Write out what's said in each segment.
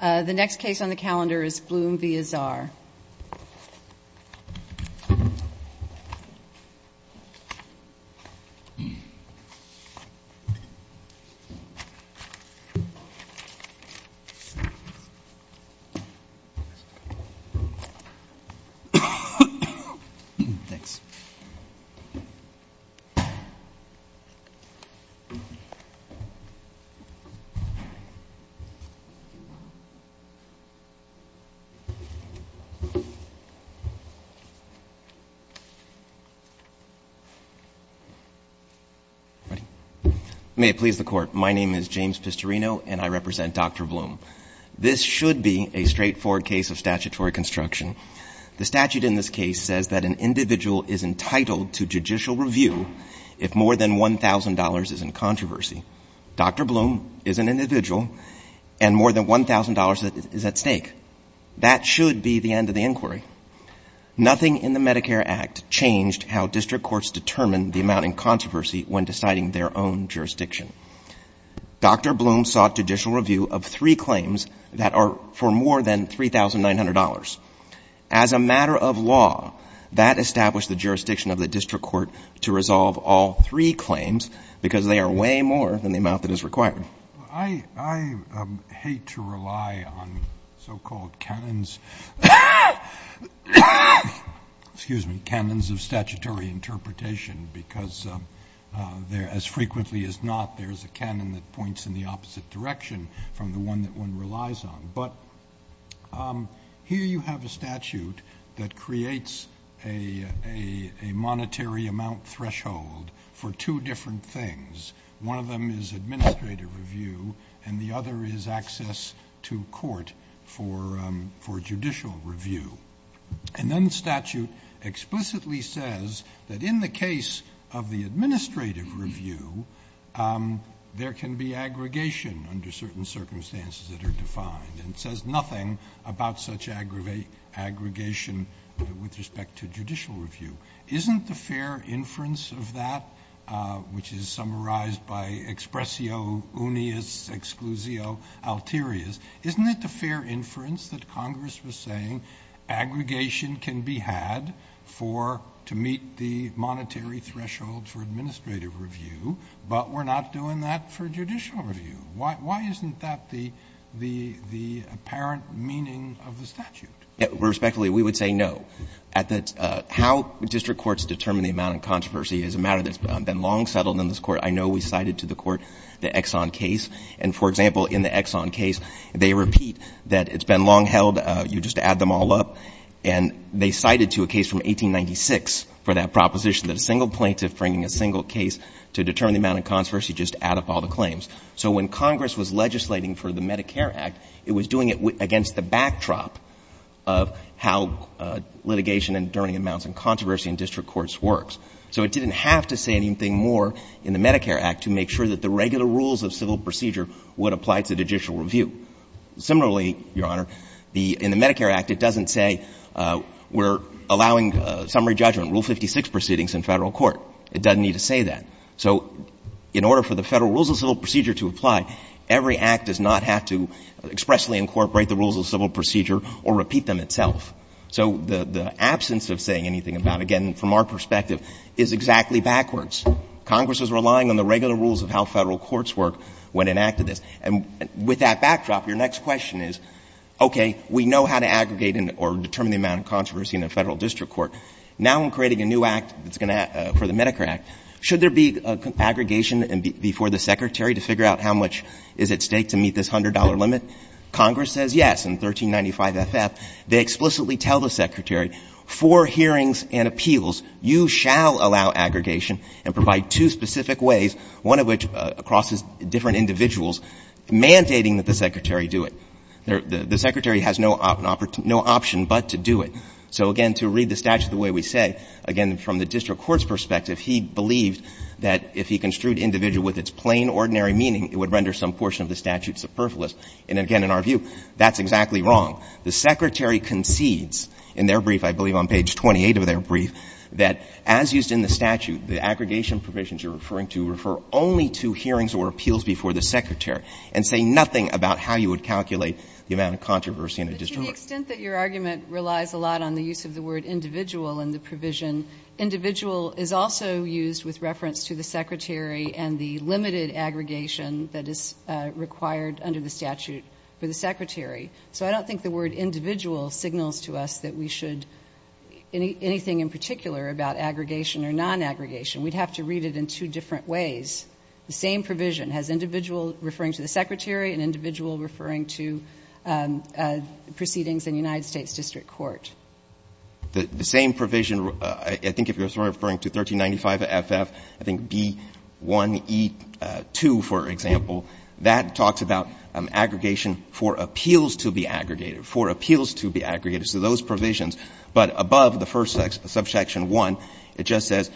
The next case on the calendar is Bloom v. Azar. May it please the Court, my name is James Pistorino, and I represent Dr. Bloom. This should be a straightforward case of statutory construction. The statute in this case says that an individual is entitled to judicial review if more than $1,000 is in controversy. Dr. Bloom is an individual and more than $1,000 is at stake. That should be the end of the inquiry. Nothing in the Medicare Act changed how district courts determine the amount in controversy when deciding their own jurisdiction. Dr. Bloom sought judicial review of three claims that are for more than $3,900. As a matter of law, that established the jurisdiction of the district court to resolve all three claims because they are way more than the amount that is required. I hate to rely on so-called canons of statutory interpretation because as frequently as not, there is a canon that points in the opposite direction from the one that one relies on. Here you have a statute that creates a monetary amount threshold for two different things. One of them is administrative review and the other is access to court for judicial review. Then the statute explicitly says that in the case of the administrative review, there can be aggregation under certain circumstances that are defined. It says nothing about such aggregation with respect to judicial review. Isn't the fair inference of that, which is summarized by expressio unius exclusio alterius, isn't it the fair inference that Congress was saying aggregation can be had for, to meet the monetary threshold for administrative review, but we're not doing that for judicial review? Why isn't that the apparent meaning of the statute? Respectfully, we would say no. How district courts determine the amount of controversy is a matter that's been long settled in this Court. I know we cited to the Court the Exxon case. And, for example, in the Exxon case, they repeat that it's been long held. You just add them all up. And they cited to a case from 1896 for that proposition that a single plaintiff bringing a single case to determine the amount of controversy, just add up all the claims. So when Congress was legislating for the Medicare Act, it was doing it against the backdrop of how litigation and determining amounts and controversy in district courts works. So it didn't have to say anything more in the Medicare Act to make sure that the regular rules of civil procedure would apply to judicial review. Similarly, Your Honor, in the Medicare Act, it doesn't say we're allowing summary judgment, Rule 56 proceedings in Federal court. It doesn't need to say that. So in order for the Federal rules of civil procedure to apply, every Act does not have to expressly incorporate the rules of civil procedure or repeat them itself. So the absence of saying anything about it, again, from our perspective, is exactly backwards. Congress is relying on the regular rules of how Federal courts work when enacted this. And with that backdrop, your next question is, okay, we know how to aggregate or determine the amount of controversy in a Federal district court. Now I'm creating a new Act that's going to act for the Medicare Act. Should there be aggregation before the Secretary to figure out how much is at stake to meet this $100 limit? Congress says yes in 1395 FF. They explicitly tell the Secretary, for hearings and appeals, you shall allow aggregation and provide two specific ways, one of which crosses different individuals, mandating that the Secretary do it. The Secretary has no option but to do it. So, again, to read the statute the way we say, again, from the district court's perspective, he believed that if he construed individual with its plain, ordinary meaning, it would render some portion of the statute superfluous. And again, in our view, that's exactly wrong. The Secretary concedes in their brief, I believe on page 28 of their brief, that as used in the statute, the aggregation provisions you're referring to refer only to hearings or appeals before the Secretary and say nothing about how you would calculate the amount of controversy in a district court. But to the extent that your argument relies a lot on the use of the word individual in the provision, individual is also used with reference to the Secretary and the limited aggregation that is required under the statute for the Secretary. So I don't think the word individual signals to us that we should anything in particular about aggregation or non-aggregation. We'd have to read it in two different ways. The same provision has individual referring to the Secretary and individual referring to proceedings in a United States district court. The same provision, I think if you're referring to 1395FF, I think B1E2, for example, that talks about aggregation for appeals to be aggregated, for appeals to be aggregated. So those provisions. But above the first subsection 1, it just says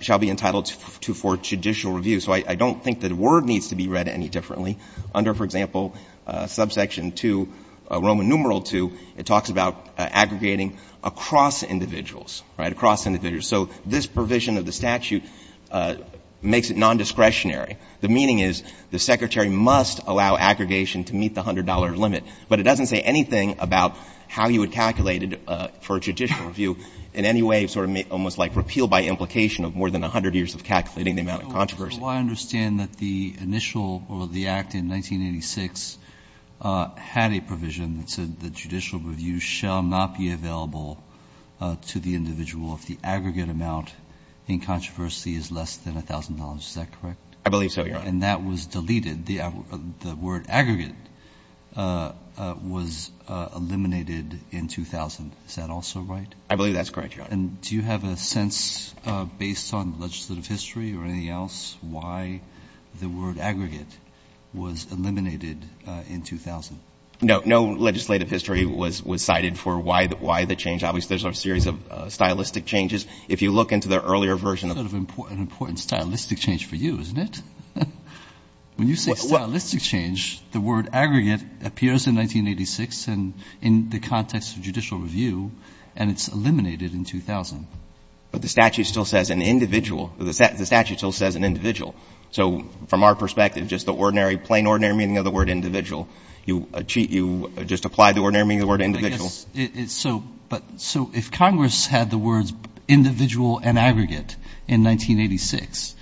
shall be entitled to for judicial review. So I don't think the word needs to be read any differently. Under, for example, subsection 2, Roman numeral 2, it talks about aggregating across individuals, right, across individuals. So this provision of the statute makes it nondiscretionary. The meaning is the Secretary must allow aggregation to meet the $100 limit. But it doesn't say anything about how you would calculate it for a judicial review in any way sort of almost like repeal by implication of more than 100 years of calculating the amount of controversy. Roberts. Well, I understand that the initial or the Act in 1986 had a provision that said the judicial review shall not be available to the individual if the aggregate amount in controversy is less than $1,000. Is that correct? I believe so, Your Honor. And that was deleted. The word aggregate was eliminated in 2000. Is that also right? I believe that's correct, Your Honor. And do you have a sense, based on legislative history or anything else, why the word aggregate was eliminated in 2000? No. No legislative history was cited for why the change. Obviously, there's a series of stylistic changes. If you look into the earlier version of the statute. That's a stylistic change for you, isn't it? When you say stylistic change, the word aggregate appears in 1986 and in the context of judicial review, and it's eliminated in 2000. But the statute still says an individual. The statute still says an individual. So from our perspective, just the ordinary, plain ordinary meaning of the word individual, you just apply the ordinary meaning of the word individual. So if Congress had the words individual and aggregate in 1986,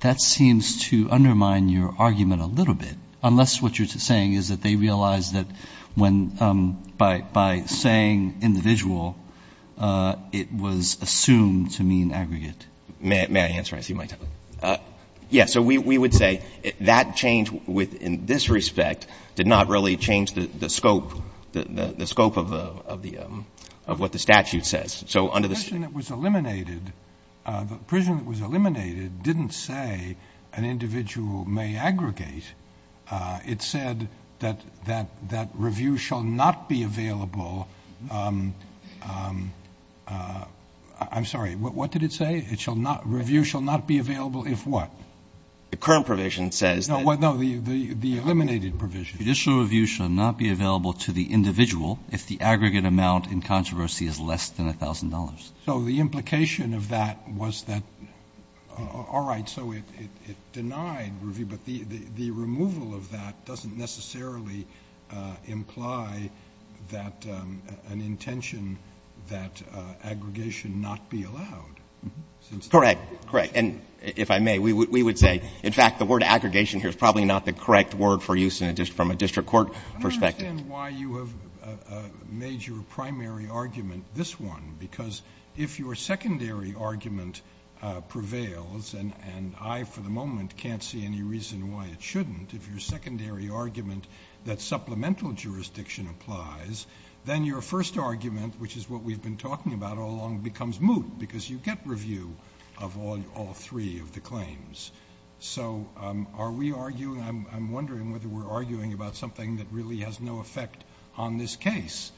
that seems to undermine your argument a little bit, unless what you're saying is that they realize that by saying individual, it was assumed to mean aggregate. May I answer? I see a mic. Yes. So we would say that change within this respect did not really change the scope of what the statute says. The prison that was eliminated didn't say an individual may aggregate. It said that review shall not be available. I'm sorry. What did it say? Review shall not be available if what? The current provision says that. No, the eliminated provision. Judicial review shall not be available to the individual if the aggregate amount in controversy is less than $1,000. So the implication of that was that, all right, so it denied review, but the removal of that doesn't necessarily imply that an intention that aggregation not be allowed. Correct. Correct. And if I may, we would say, in fact, the word aggregation here is probably not the correct word for use from a district court perspective. I don't understand why you have made your primary argument this one, because if your secondary argument prevails, and I for the moment can't see any reason why it shouldn't, if your secondary argument that supplemental jurisdiction applies, then your first argument, which is what we've been talking about all along, becomes moot, because you get review of all three of the claims. So are we arguing, I'm wondering whether we're arguing about something that really has no effect on this case.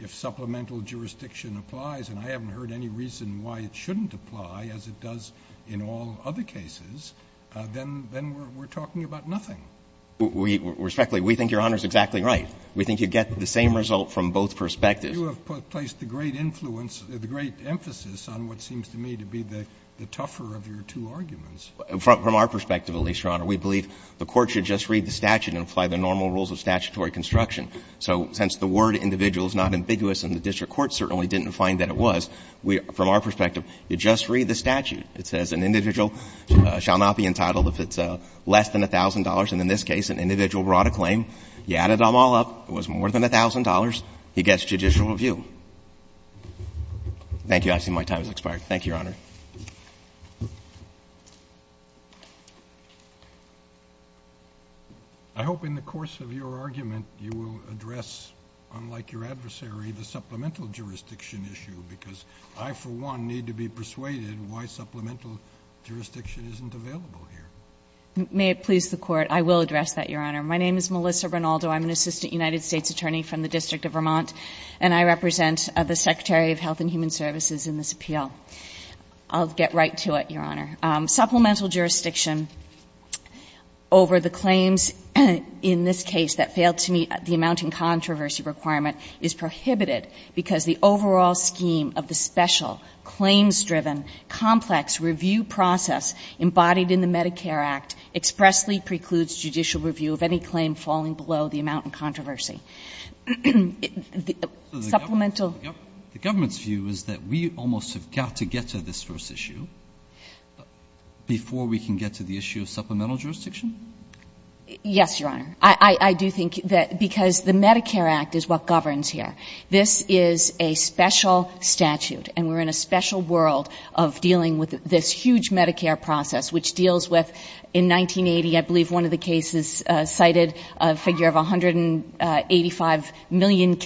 If supplemental jurisdiction applies, and I haven't heard any reason why it shouldn't apply, as it does in all other cases, then we're talking about nothing. Respectfully, we think Your Honor is exactly right. We think you get the same result from both perspectives. You have placed the great influence, the great emphasis on what seems to me to be the From our perspective, at least, Your Honor, we believe the court should just read the statute and apply the normal rules of statutory construction. So since the word individual is not ambiguous and the district court certainly didn't find that it was, from our perspective, you just read the statute. It says an individual shall not be entitled if it's less than $1,000. And in this case, an individual brought a claim. You added them all up. It was more than $1,000. He gets judicial review. Thank you. I see my time has expired. Thank you, Your Honor. I hope in the course of your argument you will address, unlike your adversary, the supplemental jurisdiction issue, because I, for one, need to be persuaded why supplemental jurisdiction isn't available here. May it please the Court, I will address that, Your Honor. My name is Melissa Rinaldo. I'm an assistant United States attorney from the District of Vermont, and I represent the Secretary of Health and Human Services in this appeal. I'll get right to it, Your Honor. Supplemental jurisdiction over the claims in this case that failed to meet the amount in controversy requirement is prohibited because the overall scheme of the special, claims-driven, complex review process embodied in the Medicare Act expressly precludes judicial review of any claim falling below the amount in controversy. Supplemental? The government's view is that we almost have got to get to this first issue before we can get to the issue of supplemental jurisdiction? Yes, Your Honor. I do think that because the Medicare Act is what governs here. This is a special statute, and we're in a special world of dealing with this huge Medicare process, which deals with, in 1980, I believe one of the cases cited, a figure of 185 million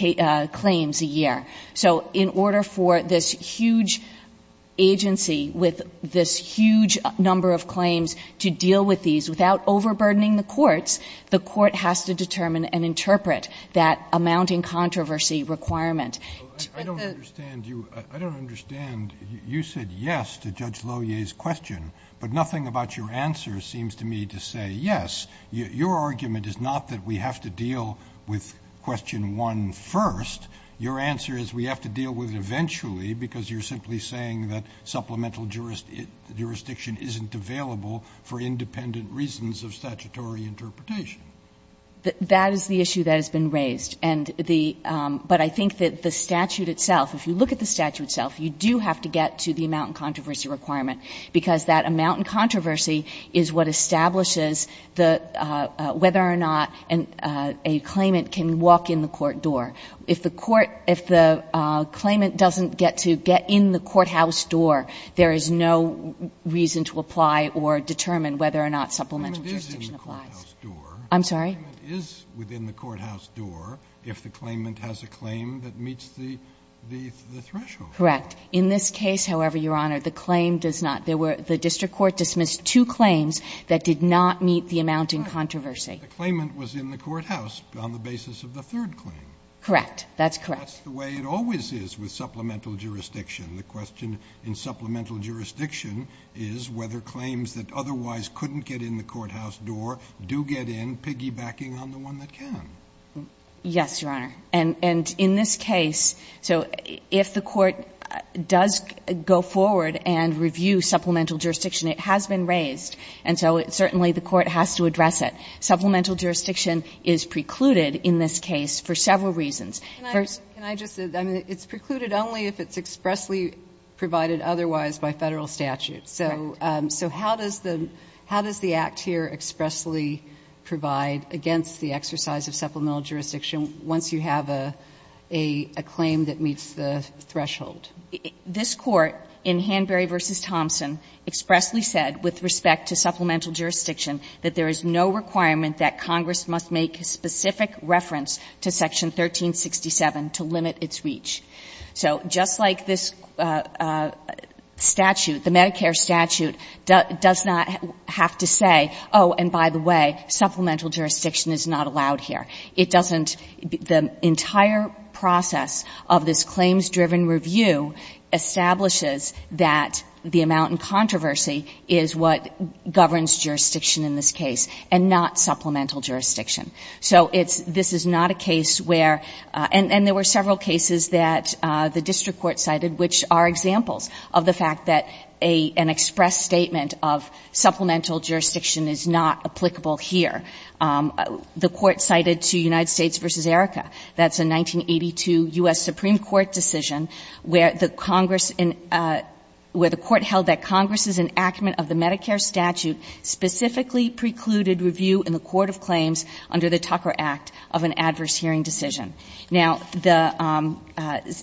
claims a year. So in order for this huge agency with this huge number of claims to deal with these without overburdening the courts, the court has to determine and interpret that amount in controversy requirement. I don't understand you. I don't understand. You said yes to Judge Lohier's question, but nothing about your answer seems to me to say yes. Your argument is not that we have to deal with question one first. Your answer is we have to deal with it eventually, because you're simply saying that supplemental jurisdiction isn't available for independent reasons of statutory interpretation. That is the issue that has been raised. And the — but I think that the statute itself, if you look at the statute itself, you do have to get to the amount in controversy requirement, because that amount in controversy is what establishes the — whether or not a claimant can walk in the court door. If the court — if the claimant doesn't get to get in the courthouse door, there is no reason to apply or determine whether or not supplemental jurisdiction applies. The claimant is in the courthouse door. I'm sorry? The claimant is within the courthouse door if the claimant has a claim that meets the threshold. Correct. In this case, however, Your Honor, the claim does not. There were — the district court dismissed two claims that did not meet the amount in controversy. But the claimant was in the courthouse on the basis of the third claim. Correct. That's correct. That's the way it always is with supplemental jurisdiction. The question in supplemental jurisdiction is whether claims that otherwise couldn't get in the courthouse door do get in, piggybacking on the one that can. Yes, Your Honor. And in this case — so if the court does go forward and review supplemental jurisdiction, it has been raised. And so certainly the court has to address it. Supplemental jurisdiction is precluded in this case for several reasons. First — Can I just — I mean, it's precluded only if it's expressly provided otherwise by Federal statute. Correct. So how does the — how does the Act here expressly provide against the exercise of supplemental jurisdiction once you have a claim that meets the threshold? This Court, in Hanbury v. Thompson, expressly said, with respect to supplemental jurisdiction, that there is no requirement that Congress must make a specific reference to Section 1367 to limit its reach. So just like this statute, the Medicare statute, does not have to say, oh, and by the way, supplemental jurisdiction is not allowed here. It doesn't — the entire process of this claims-driven review establishes that the amount in controversy is what governs jurisdiction in this case and not supplemental jurisdiction. So it's — this is not a case where — and there were several cases that the district court cited which are examples of the fact that an express statement of supplemental jurisdiction is not applicable here. The Court cited to United States v. Erica. That's a 1982 U.S. Supreme Court decision where the Congress — where the Court held that Congress's enactment of the Medicare statute specifically precluded review in the court of claims under the Tucker Act of an adverse hearing decision. Now, the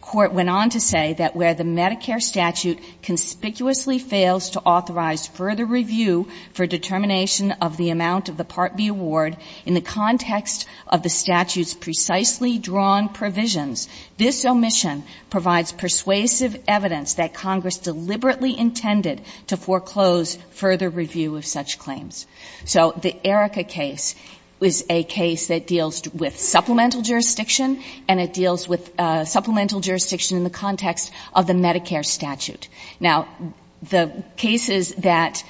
Court went on to say that where the Medicare statute conspicuously fails to authorize further review for determination of the amount of the Part B award in the context of the statute's precisely drawn provisions, this omission provides persuasive evidence that Congress deliberately intended to foreclose further review of such claims. So the Erica case is a case that deals with supplemental jurisdiction, and it deals with supplemental jurisdiction in the context of the Medicare statute. Now, the cases that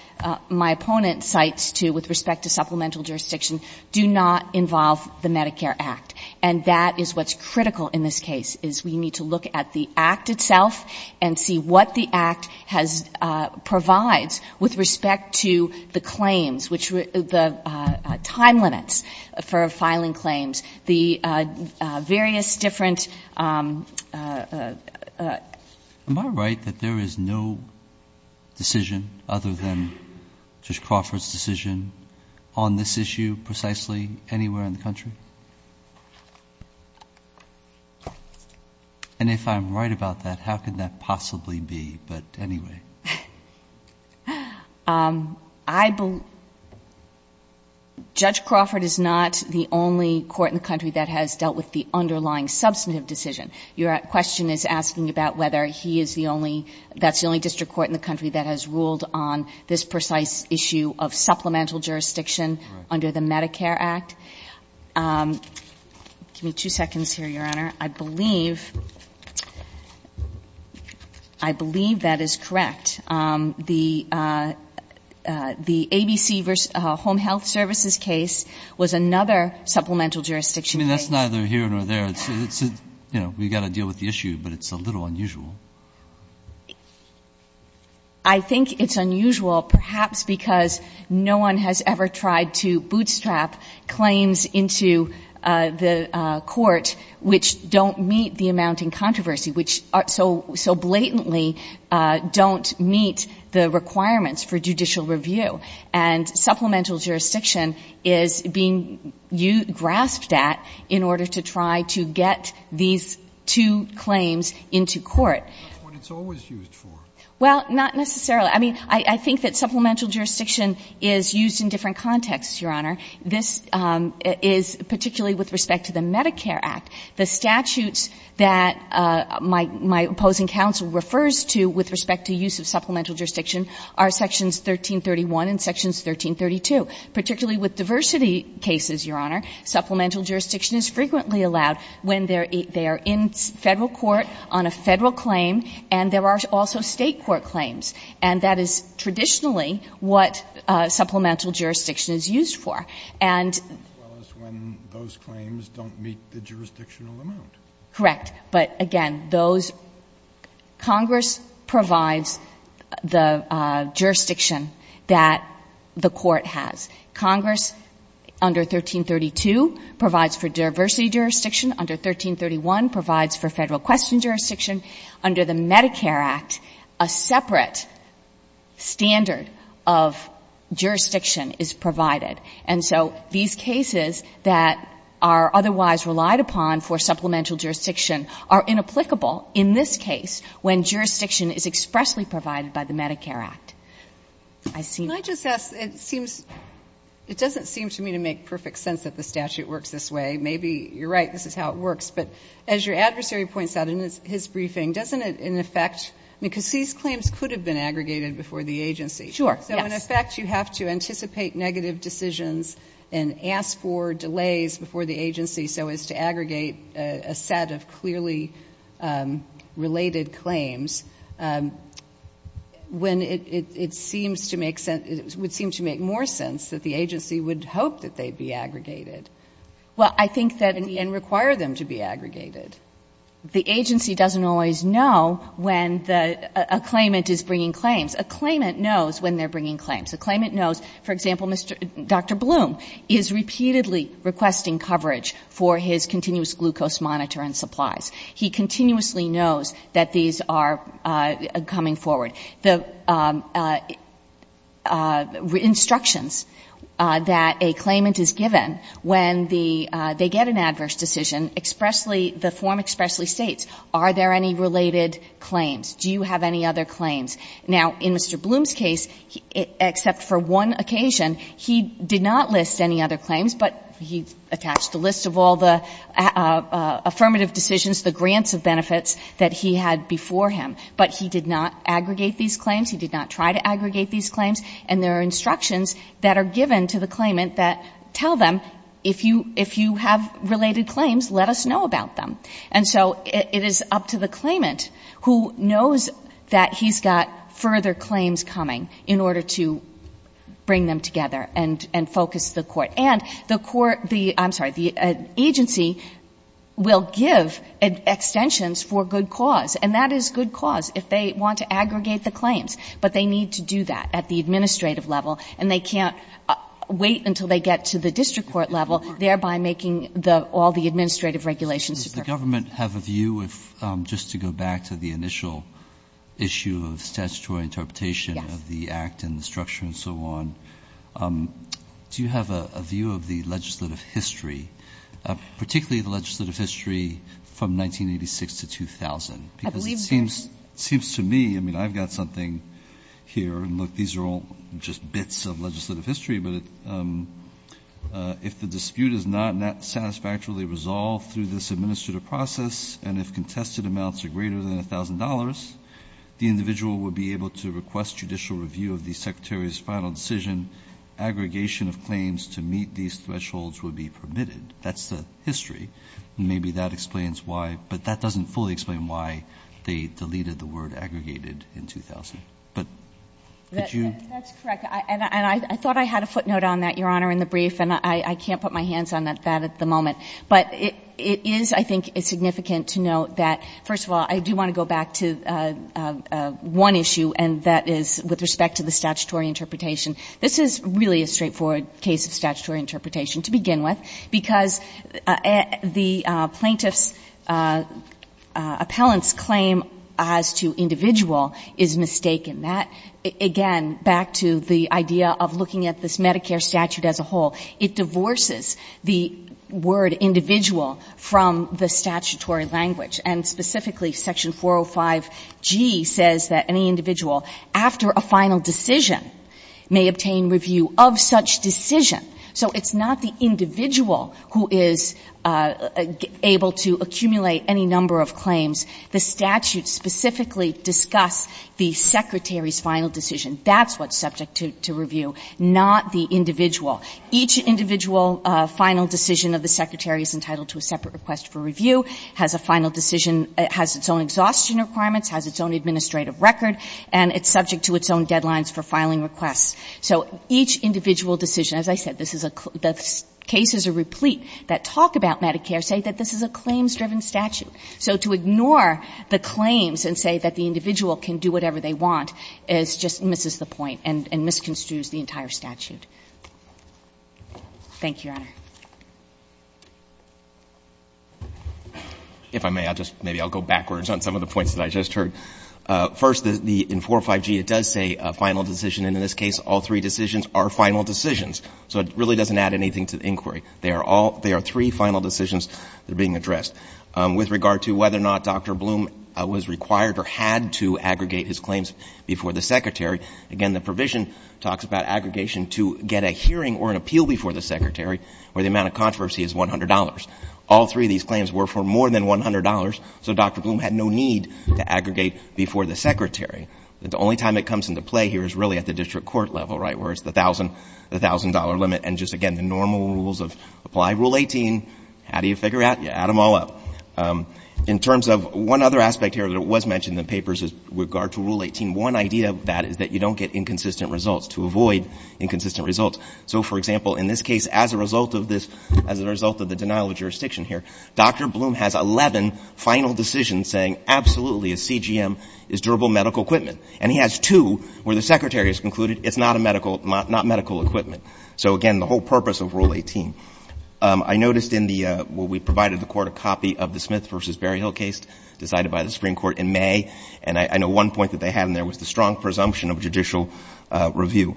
my opponent cites to — with respect to supplemental jurisdiction do not involve the Medicare Act. And that is what's critical in this case, is we need to look at the Act itself and see what the Act has — provides with respect to the claims, which — the time limits for filing claims, the various different — Am I right that there is no decision other than Judge Crawford's decision on this issue precisely anywhere in the country? And if I'm right about that, how could that possibly be? But anyway. I believe — Judge Crawford is not the only court in the country that has dealt with the underlying substantive decision. Your question is asking about whether he is the only — that's the only district court in the country that has ruled on this precise issue of supplemental jurisdiction under the Medicare Act. Give me two seconds here, Your Honor. I believe — I believe that is correct. The ABC v. Home Health Services case was another supplemental jurisdiction — I mean, that's neither here nor there. It's a — you know, we've got to deal with the issue, but it's a little unusual. I think it's unusual perhaps because no one has ever tried to bootstrap claims into the court which don't meet the amount in controversy, which so blatantly don't meet the requirements for judicial review. And supplemental jurisdiction is being grasped at as the only jurisdiction in order to try to get these two claims into court. That's what it's always used for. Well, not necessarily. I mean, I think that supplemental jurisdiction is used in different contexts, Your Honor. This is — particularly with respect to the Medicare Act, the statutes that my opposing counsel refers to with respect to use of supplemental jurisdiction are Sections 1331 and Sections 1332. Particularly with diversity cases, Your Honor, supplemental jurisdiction is frequently allowed when they are in Federal court on a Federal claim and there are also State court claims. And that is traditionally what supplemental jurisdiction is used for. And — As well as when those claims don't meet the jurisdictional amount. Correct. But, again, those — Congress provides the jurisdiction that the court has. Congress, under 1332, provides for diversity jurisdiction. Under 1331, provides for Federal question jurisdiction. Under the Medicare Act, a separate standard of jurisdiction is provided. And so these cases that are otherwise relied upon for supplemental jurisdiction are inapplicable in this case when jurisdiction is expressly provided by the Medicare Act. Can I just ask — it seems — it doesn't seem to me to make perfect sense that the statute works this way. Maybe you're right, this is how it works. But as your adversary points out in his briefing, doesn't it, in effect — because these claims could have been aggregated before the agency. Sure. Yes. In effect, you have to anticipate negative decisions and ask for delays before the agency so as to aggregate a set of clearly related claims when it seems to make sense — it would seem to make more sense that the agency would hope that they'd be aggregated. Well, I think that — And require them to be aggregated. The agency doesn't always know when a claimant is bringing claims. A claimant knows — for example, Dr. Bloom is repeatedly requesting coverage for his continuous glucose monitor and supplies. He continuously knows that these are coming forward. The instructions that a claimant is given when they get an adverse decision, expressly — the form expressly states, are there any related claims? Do you have any other claims? Now, in Mr. Bloom's case, except for one occasion, he did not list any other claims, but he attached a list of all the affirmative decisions, the grants of benefits that he had before him. But he did not aggregate these claims. He did not try to aggregate these claims. And there are instructions that are given to the claimant that tell them, if you have related claims, let us know about them. And so it is up to the claimant, who knows that he's got further claims coming, in order to bring them together and focus the court. And the court — I'm sorry, the agency will give extensions for good cause. And that is good cause, if they want to aggregate the claims. But they need to do that at the administrative level, and they can't wait until they get to the district court level, thereby making the — all the administrative regulations superficial. Kennedy. Does the government have a view, just to go back to the initial issue of statutory interpretation of the Act and the structure and so on, do you have a view of the legislative history, particularly the legislative history from 1986 to 2000? Because it seems to me — I mean, I've got something here, and look, these are all just bits of legislative history, but if the dispute is not satisfactorily resolved through this administrative process, and if contested amounts are greater than $1,000, the individual would be able to request judicial review of the Secretary's final decision. Aggregation of claims to meet these thresholds would be permitted. That's the history. Maybe that explains why. But that doesn't fully explain why they deleted the word aggregated in 2000. But could you — That's correct. And I thought I had a footnote on that, Your Honor, in the brief, and I can't put my hands on that at the moment. But it is, I think, significant to note that, first of all, I do want to go back to one issue, and that is with respect to the statutory interpretation. This is really a straightforward case of statutory interpretation, to begin with, because the plaintiff's — appellant's claim as to individual is mistaken. That, again, back to the idea of looking at this Medicare statute as a whole, it divorces the word individual from the statutory language. And specifically, Section 405G says that any individual, after a final decision, may obtain review of such decision. So it's not the individual who is able to accumulate any number of claims. The statute specifically discuss the secretary's final decision. That's what's subject to review, not the individual. Each individual final decision of the secretary is entitled to a separate request for review, has a final decision — has its own exhaustion requirements, has its own administrative record, and it's subject to its own deadlines for filing requests. So each individual decision — as I said, this is a — the cases are replete that talk about Medicare, say that this is a claims-driven statute. So to ignore the claims and say that the individual can do whatever they want is — just misses the point and misconstrues the entire statute. Thank you, Your Honor. If I may, I'll just — maybe I'll go backwards on some of the points that I just heard. First, the — in 405G, it does say a final decision. And in this case, all three decisions are final decisions. So it really doesn't add anything to the inquiry. They are all — they are three final decisions that are being addressed. With regard to whether or not Dr. Bloom was required or had to aggregate his claims before the secretary, again, the provision talks about aggregation to get a hearing or an appeal before the secretary, where the amount of controversy is $100. All three of these claims were for more than $100, so Dr. Bloom had no need to aggregate before the secretary. The only time it comes into play here is really at the district court level, right, where it's the $1,000 limit. And just, again, the normal rules of apply Rule 18. How do you figure out? You add them all up. In terms of one other aspect here that was mentioned in the papers with regard to Rule 18, one idea of that is that you don't get inconsistent results. To avoid inconsistent results. So, for example, in this case, as a result of this — as a result of the denial of jurisdiction here, Dr. Bloom has 11 final decisions saying, absolutely, a CGM is durable medical equipment. And he has two where the secretary has concluded it's not a medical — not a medical equipment, and he has two where the secretary has concluded it's not a medical Now, there's no — in the case of the Smith v. Berryhill case decided by the Supreme Court in May, and I know one point that they had in there was the strong presumption of judicial review.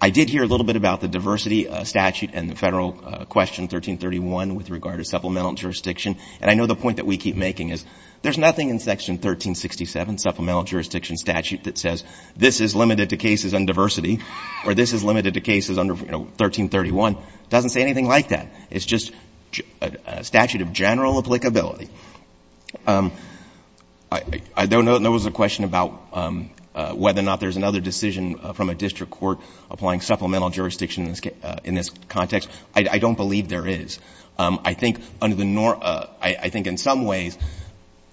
I did hear a little bit about the diversity statute and the Federal question, 1331, with regard to supplemental jurisdiction. And I know the point that we keep making is there's nothing in section 1367, supplemental jurisdiction statute, that says this is limited to cases on diversity or this is limited to cases under, you know, 1331. It doesn't say anything like that. It's just a statute of general applicability. I don't know if there was a question about whether or not there's another decision from a secretary. I don't believe there is. I think under the — I think in some ways,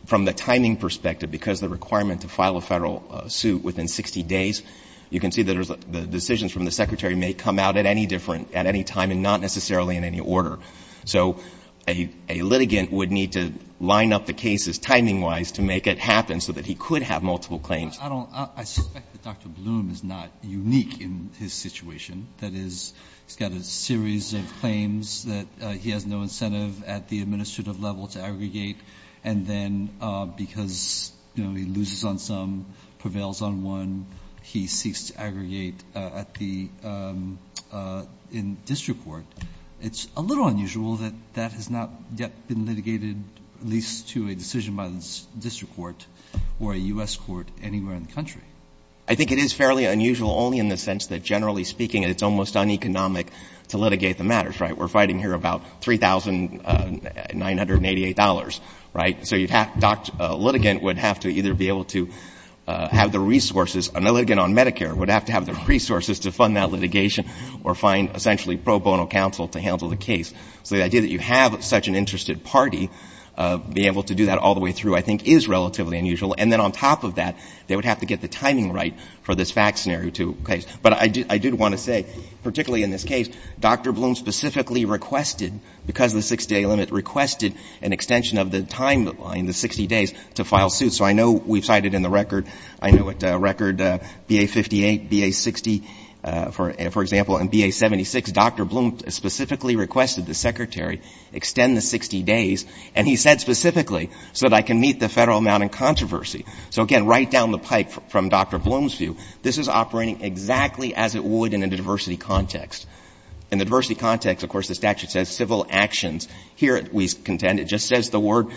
from the timing perspective, because the requirement to file a Federal suit within 60 days, you can see that the decisions from the secretary may come out at any different — at any time and not necessarily in any order. So a litigant would need to line up the cases timing-wise to make it happen so that he could have multiple claims. But I don't — I suspect that Dr. Bloom is not unique in his situation, that is, he's had a series of claims that he has no incentive at the administrative level to aggregate, and then because, you know, he loses on some, prevails on one, he seeks to aggregate at the — in district court. It's a little unusual that that has not yet been litigated, at least to a decision by the district court or a U.S. court anywhere in the country. I think it is fairly unusual only in the sense that, generally speaking, it's almost uneconomic to litigate the matters, right? We're fighting here about $3,988, right? So you'd have — a litigant would have to either be able to have the resources — a litigant on Medicare would have to have the resources to fund that litigation or find essentially pro bono counsel to handle the case. So the idea that you have such an extension of the timing right for this FACTS scenario to — but I did want to say, particularly in this case, Dr. Bloom specifically requested, because of the 60-day limit, requested an extension of the timeline, the 60 days, to file suits. So I know we've cited in the record — I know at record BA58, BA60, for example, and BA76, Dr. Bloom specifically requested the Secretary extend the 60 days, and he said specifically, so that I can meet the federal amount in controversy. So, again, right down the pipe from Dr. Bloom's view, this is operating exactly as it would in a diversity context. In the diversity context, of course, the statute says civil actions. Here we contend it just says the word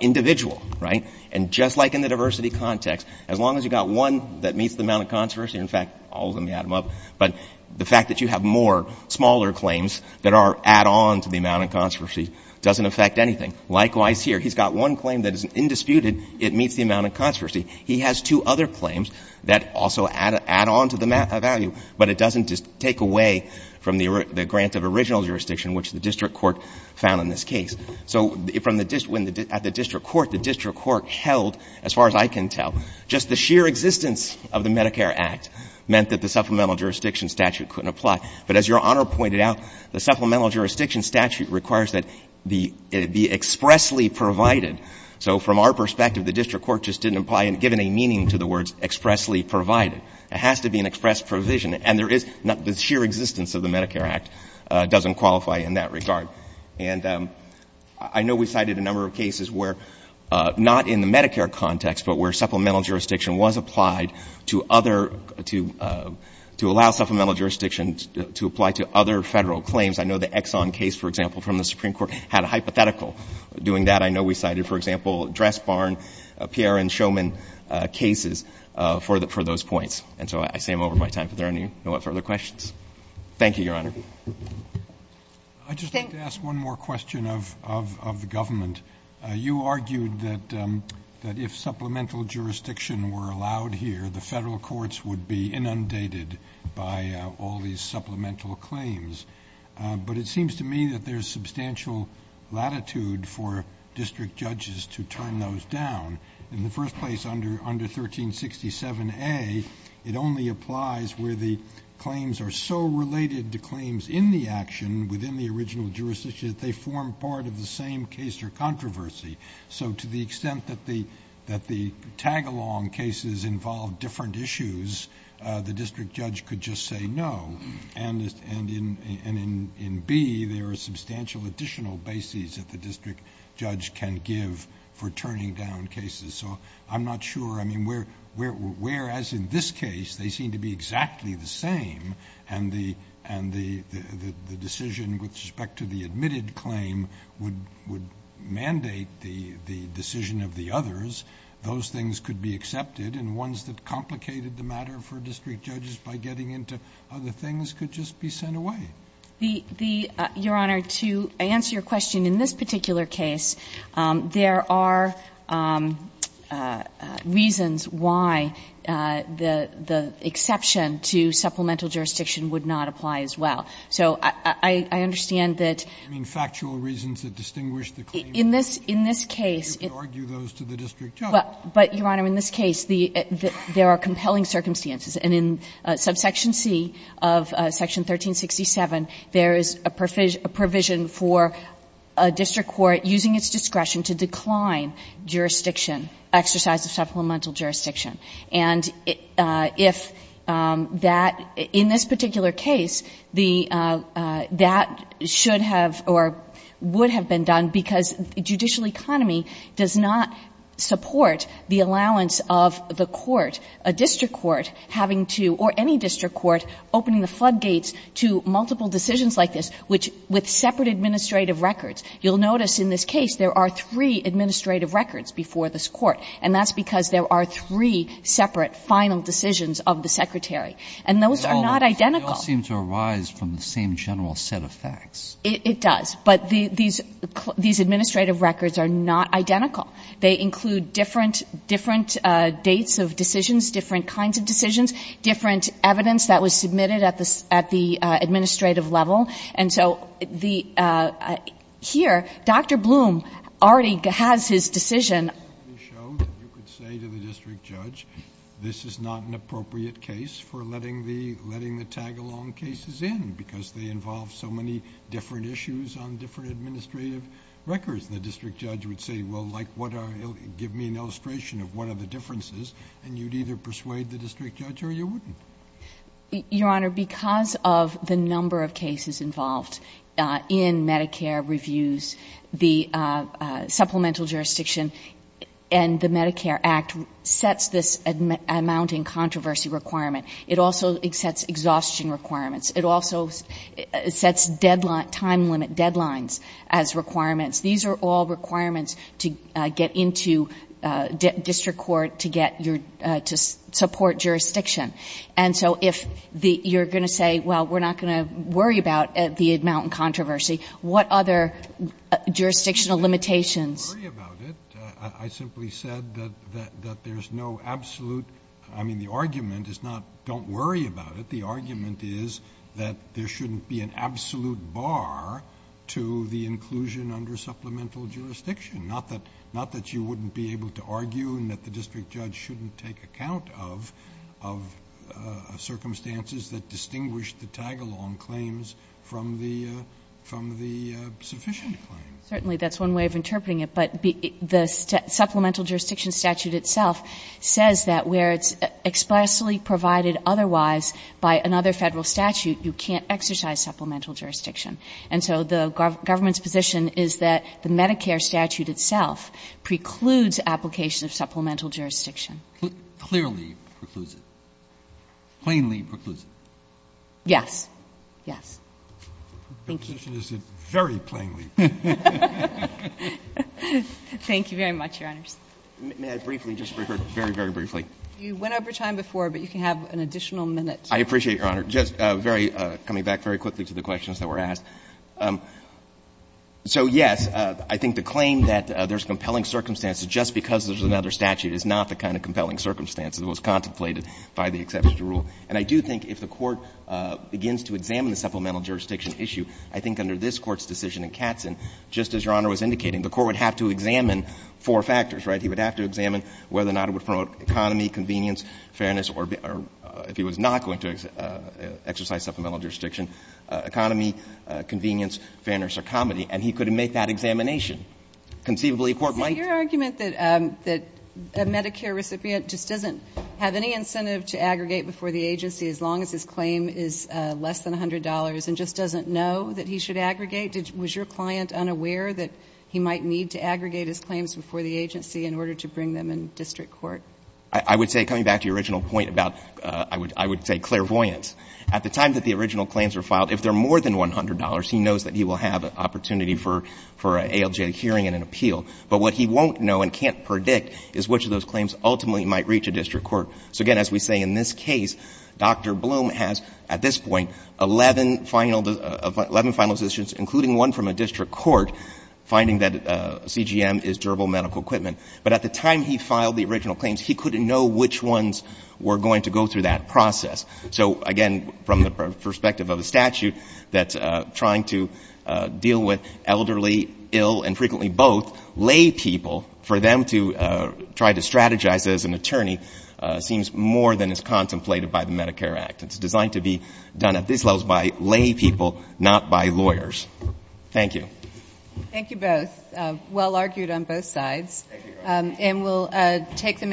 individual, right? And just like in the diversity context, as long as you've got one that meets the amount of controversy — in fact, I'll let Adam up — but the fact that you have more, smaller claims that are add-on to the amount of controversy doesn't affect anything. Likewise here. He's got one claim that is indisputed. It meets the amount of controversy. He has two other claims that also add on to the value, but it doesn't take away from the grant of original jurisdiction, which the district court found in this case. So from the — at the district court, the district court held, as far as I can tell, just the sheer existence of the Medicare Act meant that the supplemental jurisdiction statute couldn't apply. But as Your Honor pointed out, the supplemental jurisdiction statute requires that it be expressly provided. So from our perspective, the district court just didn't apply and give any meaning to the words expressly provided. It has to be an express provision. And there is — the sheer existence of the Medicare Act doesn't qualify in that regard. And I know we've had cases where — not in the Medicare context, but where supplemental jurisdiction was applied to other — to allow supplemental jurisdiction to apply to other Federal claims. I know the Exxon case, for example, from the Supreme Court had a hypothetical doing that. I know we cited, for example, Dressbarn, Pierre, and Shoman cases for those points. And so I say I'm over my time, but there are no further questions. Thank you, Your Honor. I'd just like to ask one more question of the government. You argued that if supplemental jurisdiction were allowed here, the Federal courts would be inundated by all these supplemental claims. But it seems to me that there's substantial latitude for district judges to turn those down. In the first place, under 1367A, it only applies where the claims are so related to claims in the action within the original jurisdiction that they form part of the same case or controversy. So to the extent that the tag-along cases involve different issues, the district judge could just say no. And in B, there are substantial additional bases that the district judge can give for turning down cases. So I'm not sure — I mean, whereas in this case, they seem to be exactly the same, and the decision with respect to the admitted claim would mandate the decision of the others, those things could be accepted. And ones that complicated the matter for district judges by getting into other things could just be sent away. Your Honor, to answer your question, in this particular case, there are reasons why the exception to supplemental jurisdiction would not apply as well. So I understand that — I mean, factual reasons that distinguish the claims. In this case — You could argue those to the district judge. But, Your Honor, in this case, there are compelling circumstances. And in subsection C of section 1367, there is a provision for a district court using its discretion to decline jurisdiction, exercise of supplemental jurisdiction. And if that — in this particular case, the — that should have or would have been done because the judicial economy does not support the allowance of the court, a district court having to — or any district court opening the floodgates to multiple decisions like this, which — with separate administrative records, you'll notice in this case there are three administrative records before this court. And that's because there are three separate final decisions of the secretary. And those are not identical. But they all seem to arise from the same general set of facts. It does. But these — these administrative records are not identical. They include different — different dates of decisions, different kinds of decisions, different evidence that was submitted at the — at the administrative level. And so the — here, Dr. Blum already has his decision. You could say to the district judge, this is not an appropriate case for letting the — letting the tag-along cases in because they involve so many different issues on different administrative records. And the district judge would say, well, like, what are — give me an illustration of what are the differences, and you'd either persuade the district judge or you wouldn't. Your Honor, because of the number of cases involved in Medicare reviews, the supplemental jurisdiction and the Medicare Act sets this amounting controversy requirement. It also sets exhaustion requirements. It also sets deadline — time limit deadlines as requirements. These are all requirements to get into district court to get your — to support jurisdiction. And so if the — you're going to say, well, we're not going to worry about the amounting controversy, what other jurisdictional limitations? I didn't worry about it. I simply said that — that there's no absolute — I mean, the argument is not don't worry about it. But the argument is that there shouldn't be an absolute bar to the inclusion under supplemental jurisdiction, not that — not that you wouldn't be able to argue and that the district judge shouldn't take account of — of circumstances that distinguish the tag-along claims from the — from the sufficient claims. Certainly, that's one way of interpreting it. But the supplemental jurisdiction statute itself says that where it's expressly provided otherwise by another Federal statute, you can't exercise supplemental jurisdiction. And so the government's position is that the Medicare statute itself precludes application of supplemental jurisdiction. Clearly precludes it. Plainly precludes it. Yes. Yes. Thank you. Your position is very plainly. Thank you very much, Your Honors. May I briefly just — very, very briefly. You went over time before, but you can have an additional minute. I appreciate, Your Honor. Just very — coming back very quickly to the questions that were asked. So, yes, I think the claim that there's compelling circumstances just because there's another statute is not the kind of compelling circumstances that was contemplated by the exception to rule. And I do think if the Court begins to examine the supplemental jurisdiction issue, I think under this Court's decision in Katzen, just as Your Honor was indicating, the Court would have to examine four factors, right? He would have to examine whether or not it would promote economy, convenience, fairness, or if he was not going to exercise supplemental jurisdiction, economy, convenience, fairness, or comedy. And he could make that examination. Conceivably, a court might — So your argument that a Medicare recipient just doesn't have any incentive to aggregate before the agency as long as his claim is less than $100 and just doesn't know that he should aggregate, was your client unaware that he might need to aggregate his claims in order to bring them in district court? I would say, coming back to your original point about — I would say clairvoyance. At the time that the original claims were filed, if they're more than $100, he knows that he will have an opportunity for an ALJ hearing and an appeal. But what he won't know and can't predict is which of those claims ultimately might reach a district court. So, again, as we say in this case, Dr. Bloom has, at this point, 11 final — 11 final decisions, including one from a district court, finding that CGM is durable medical equipment. But at the time he filed the original claims, he couldn't know which ones were going to go through that process. So, again, from the perspective of a statute that's trying to deal with elderly, ill, and frequently both, lay people, for them to try to strategize as an attorney seems more than is contemplated by the Medicare Act. It's designed to be done at these levels by lay people, not by lawyers. Thank you. Thank you both. Well argued on both sides. And we'll take them out.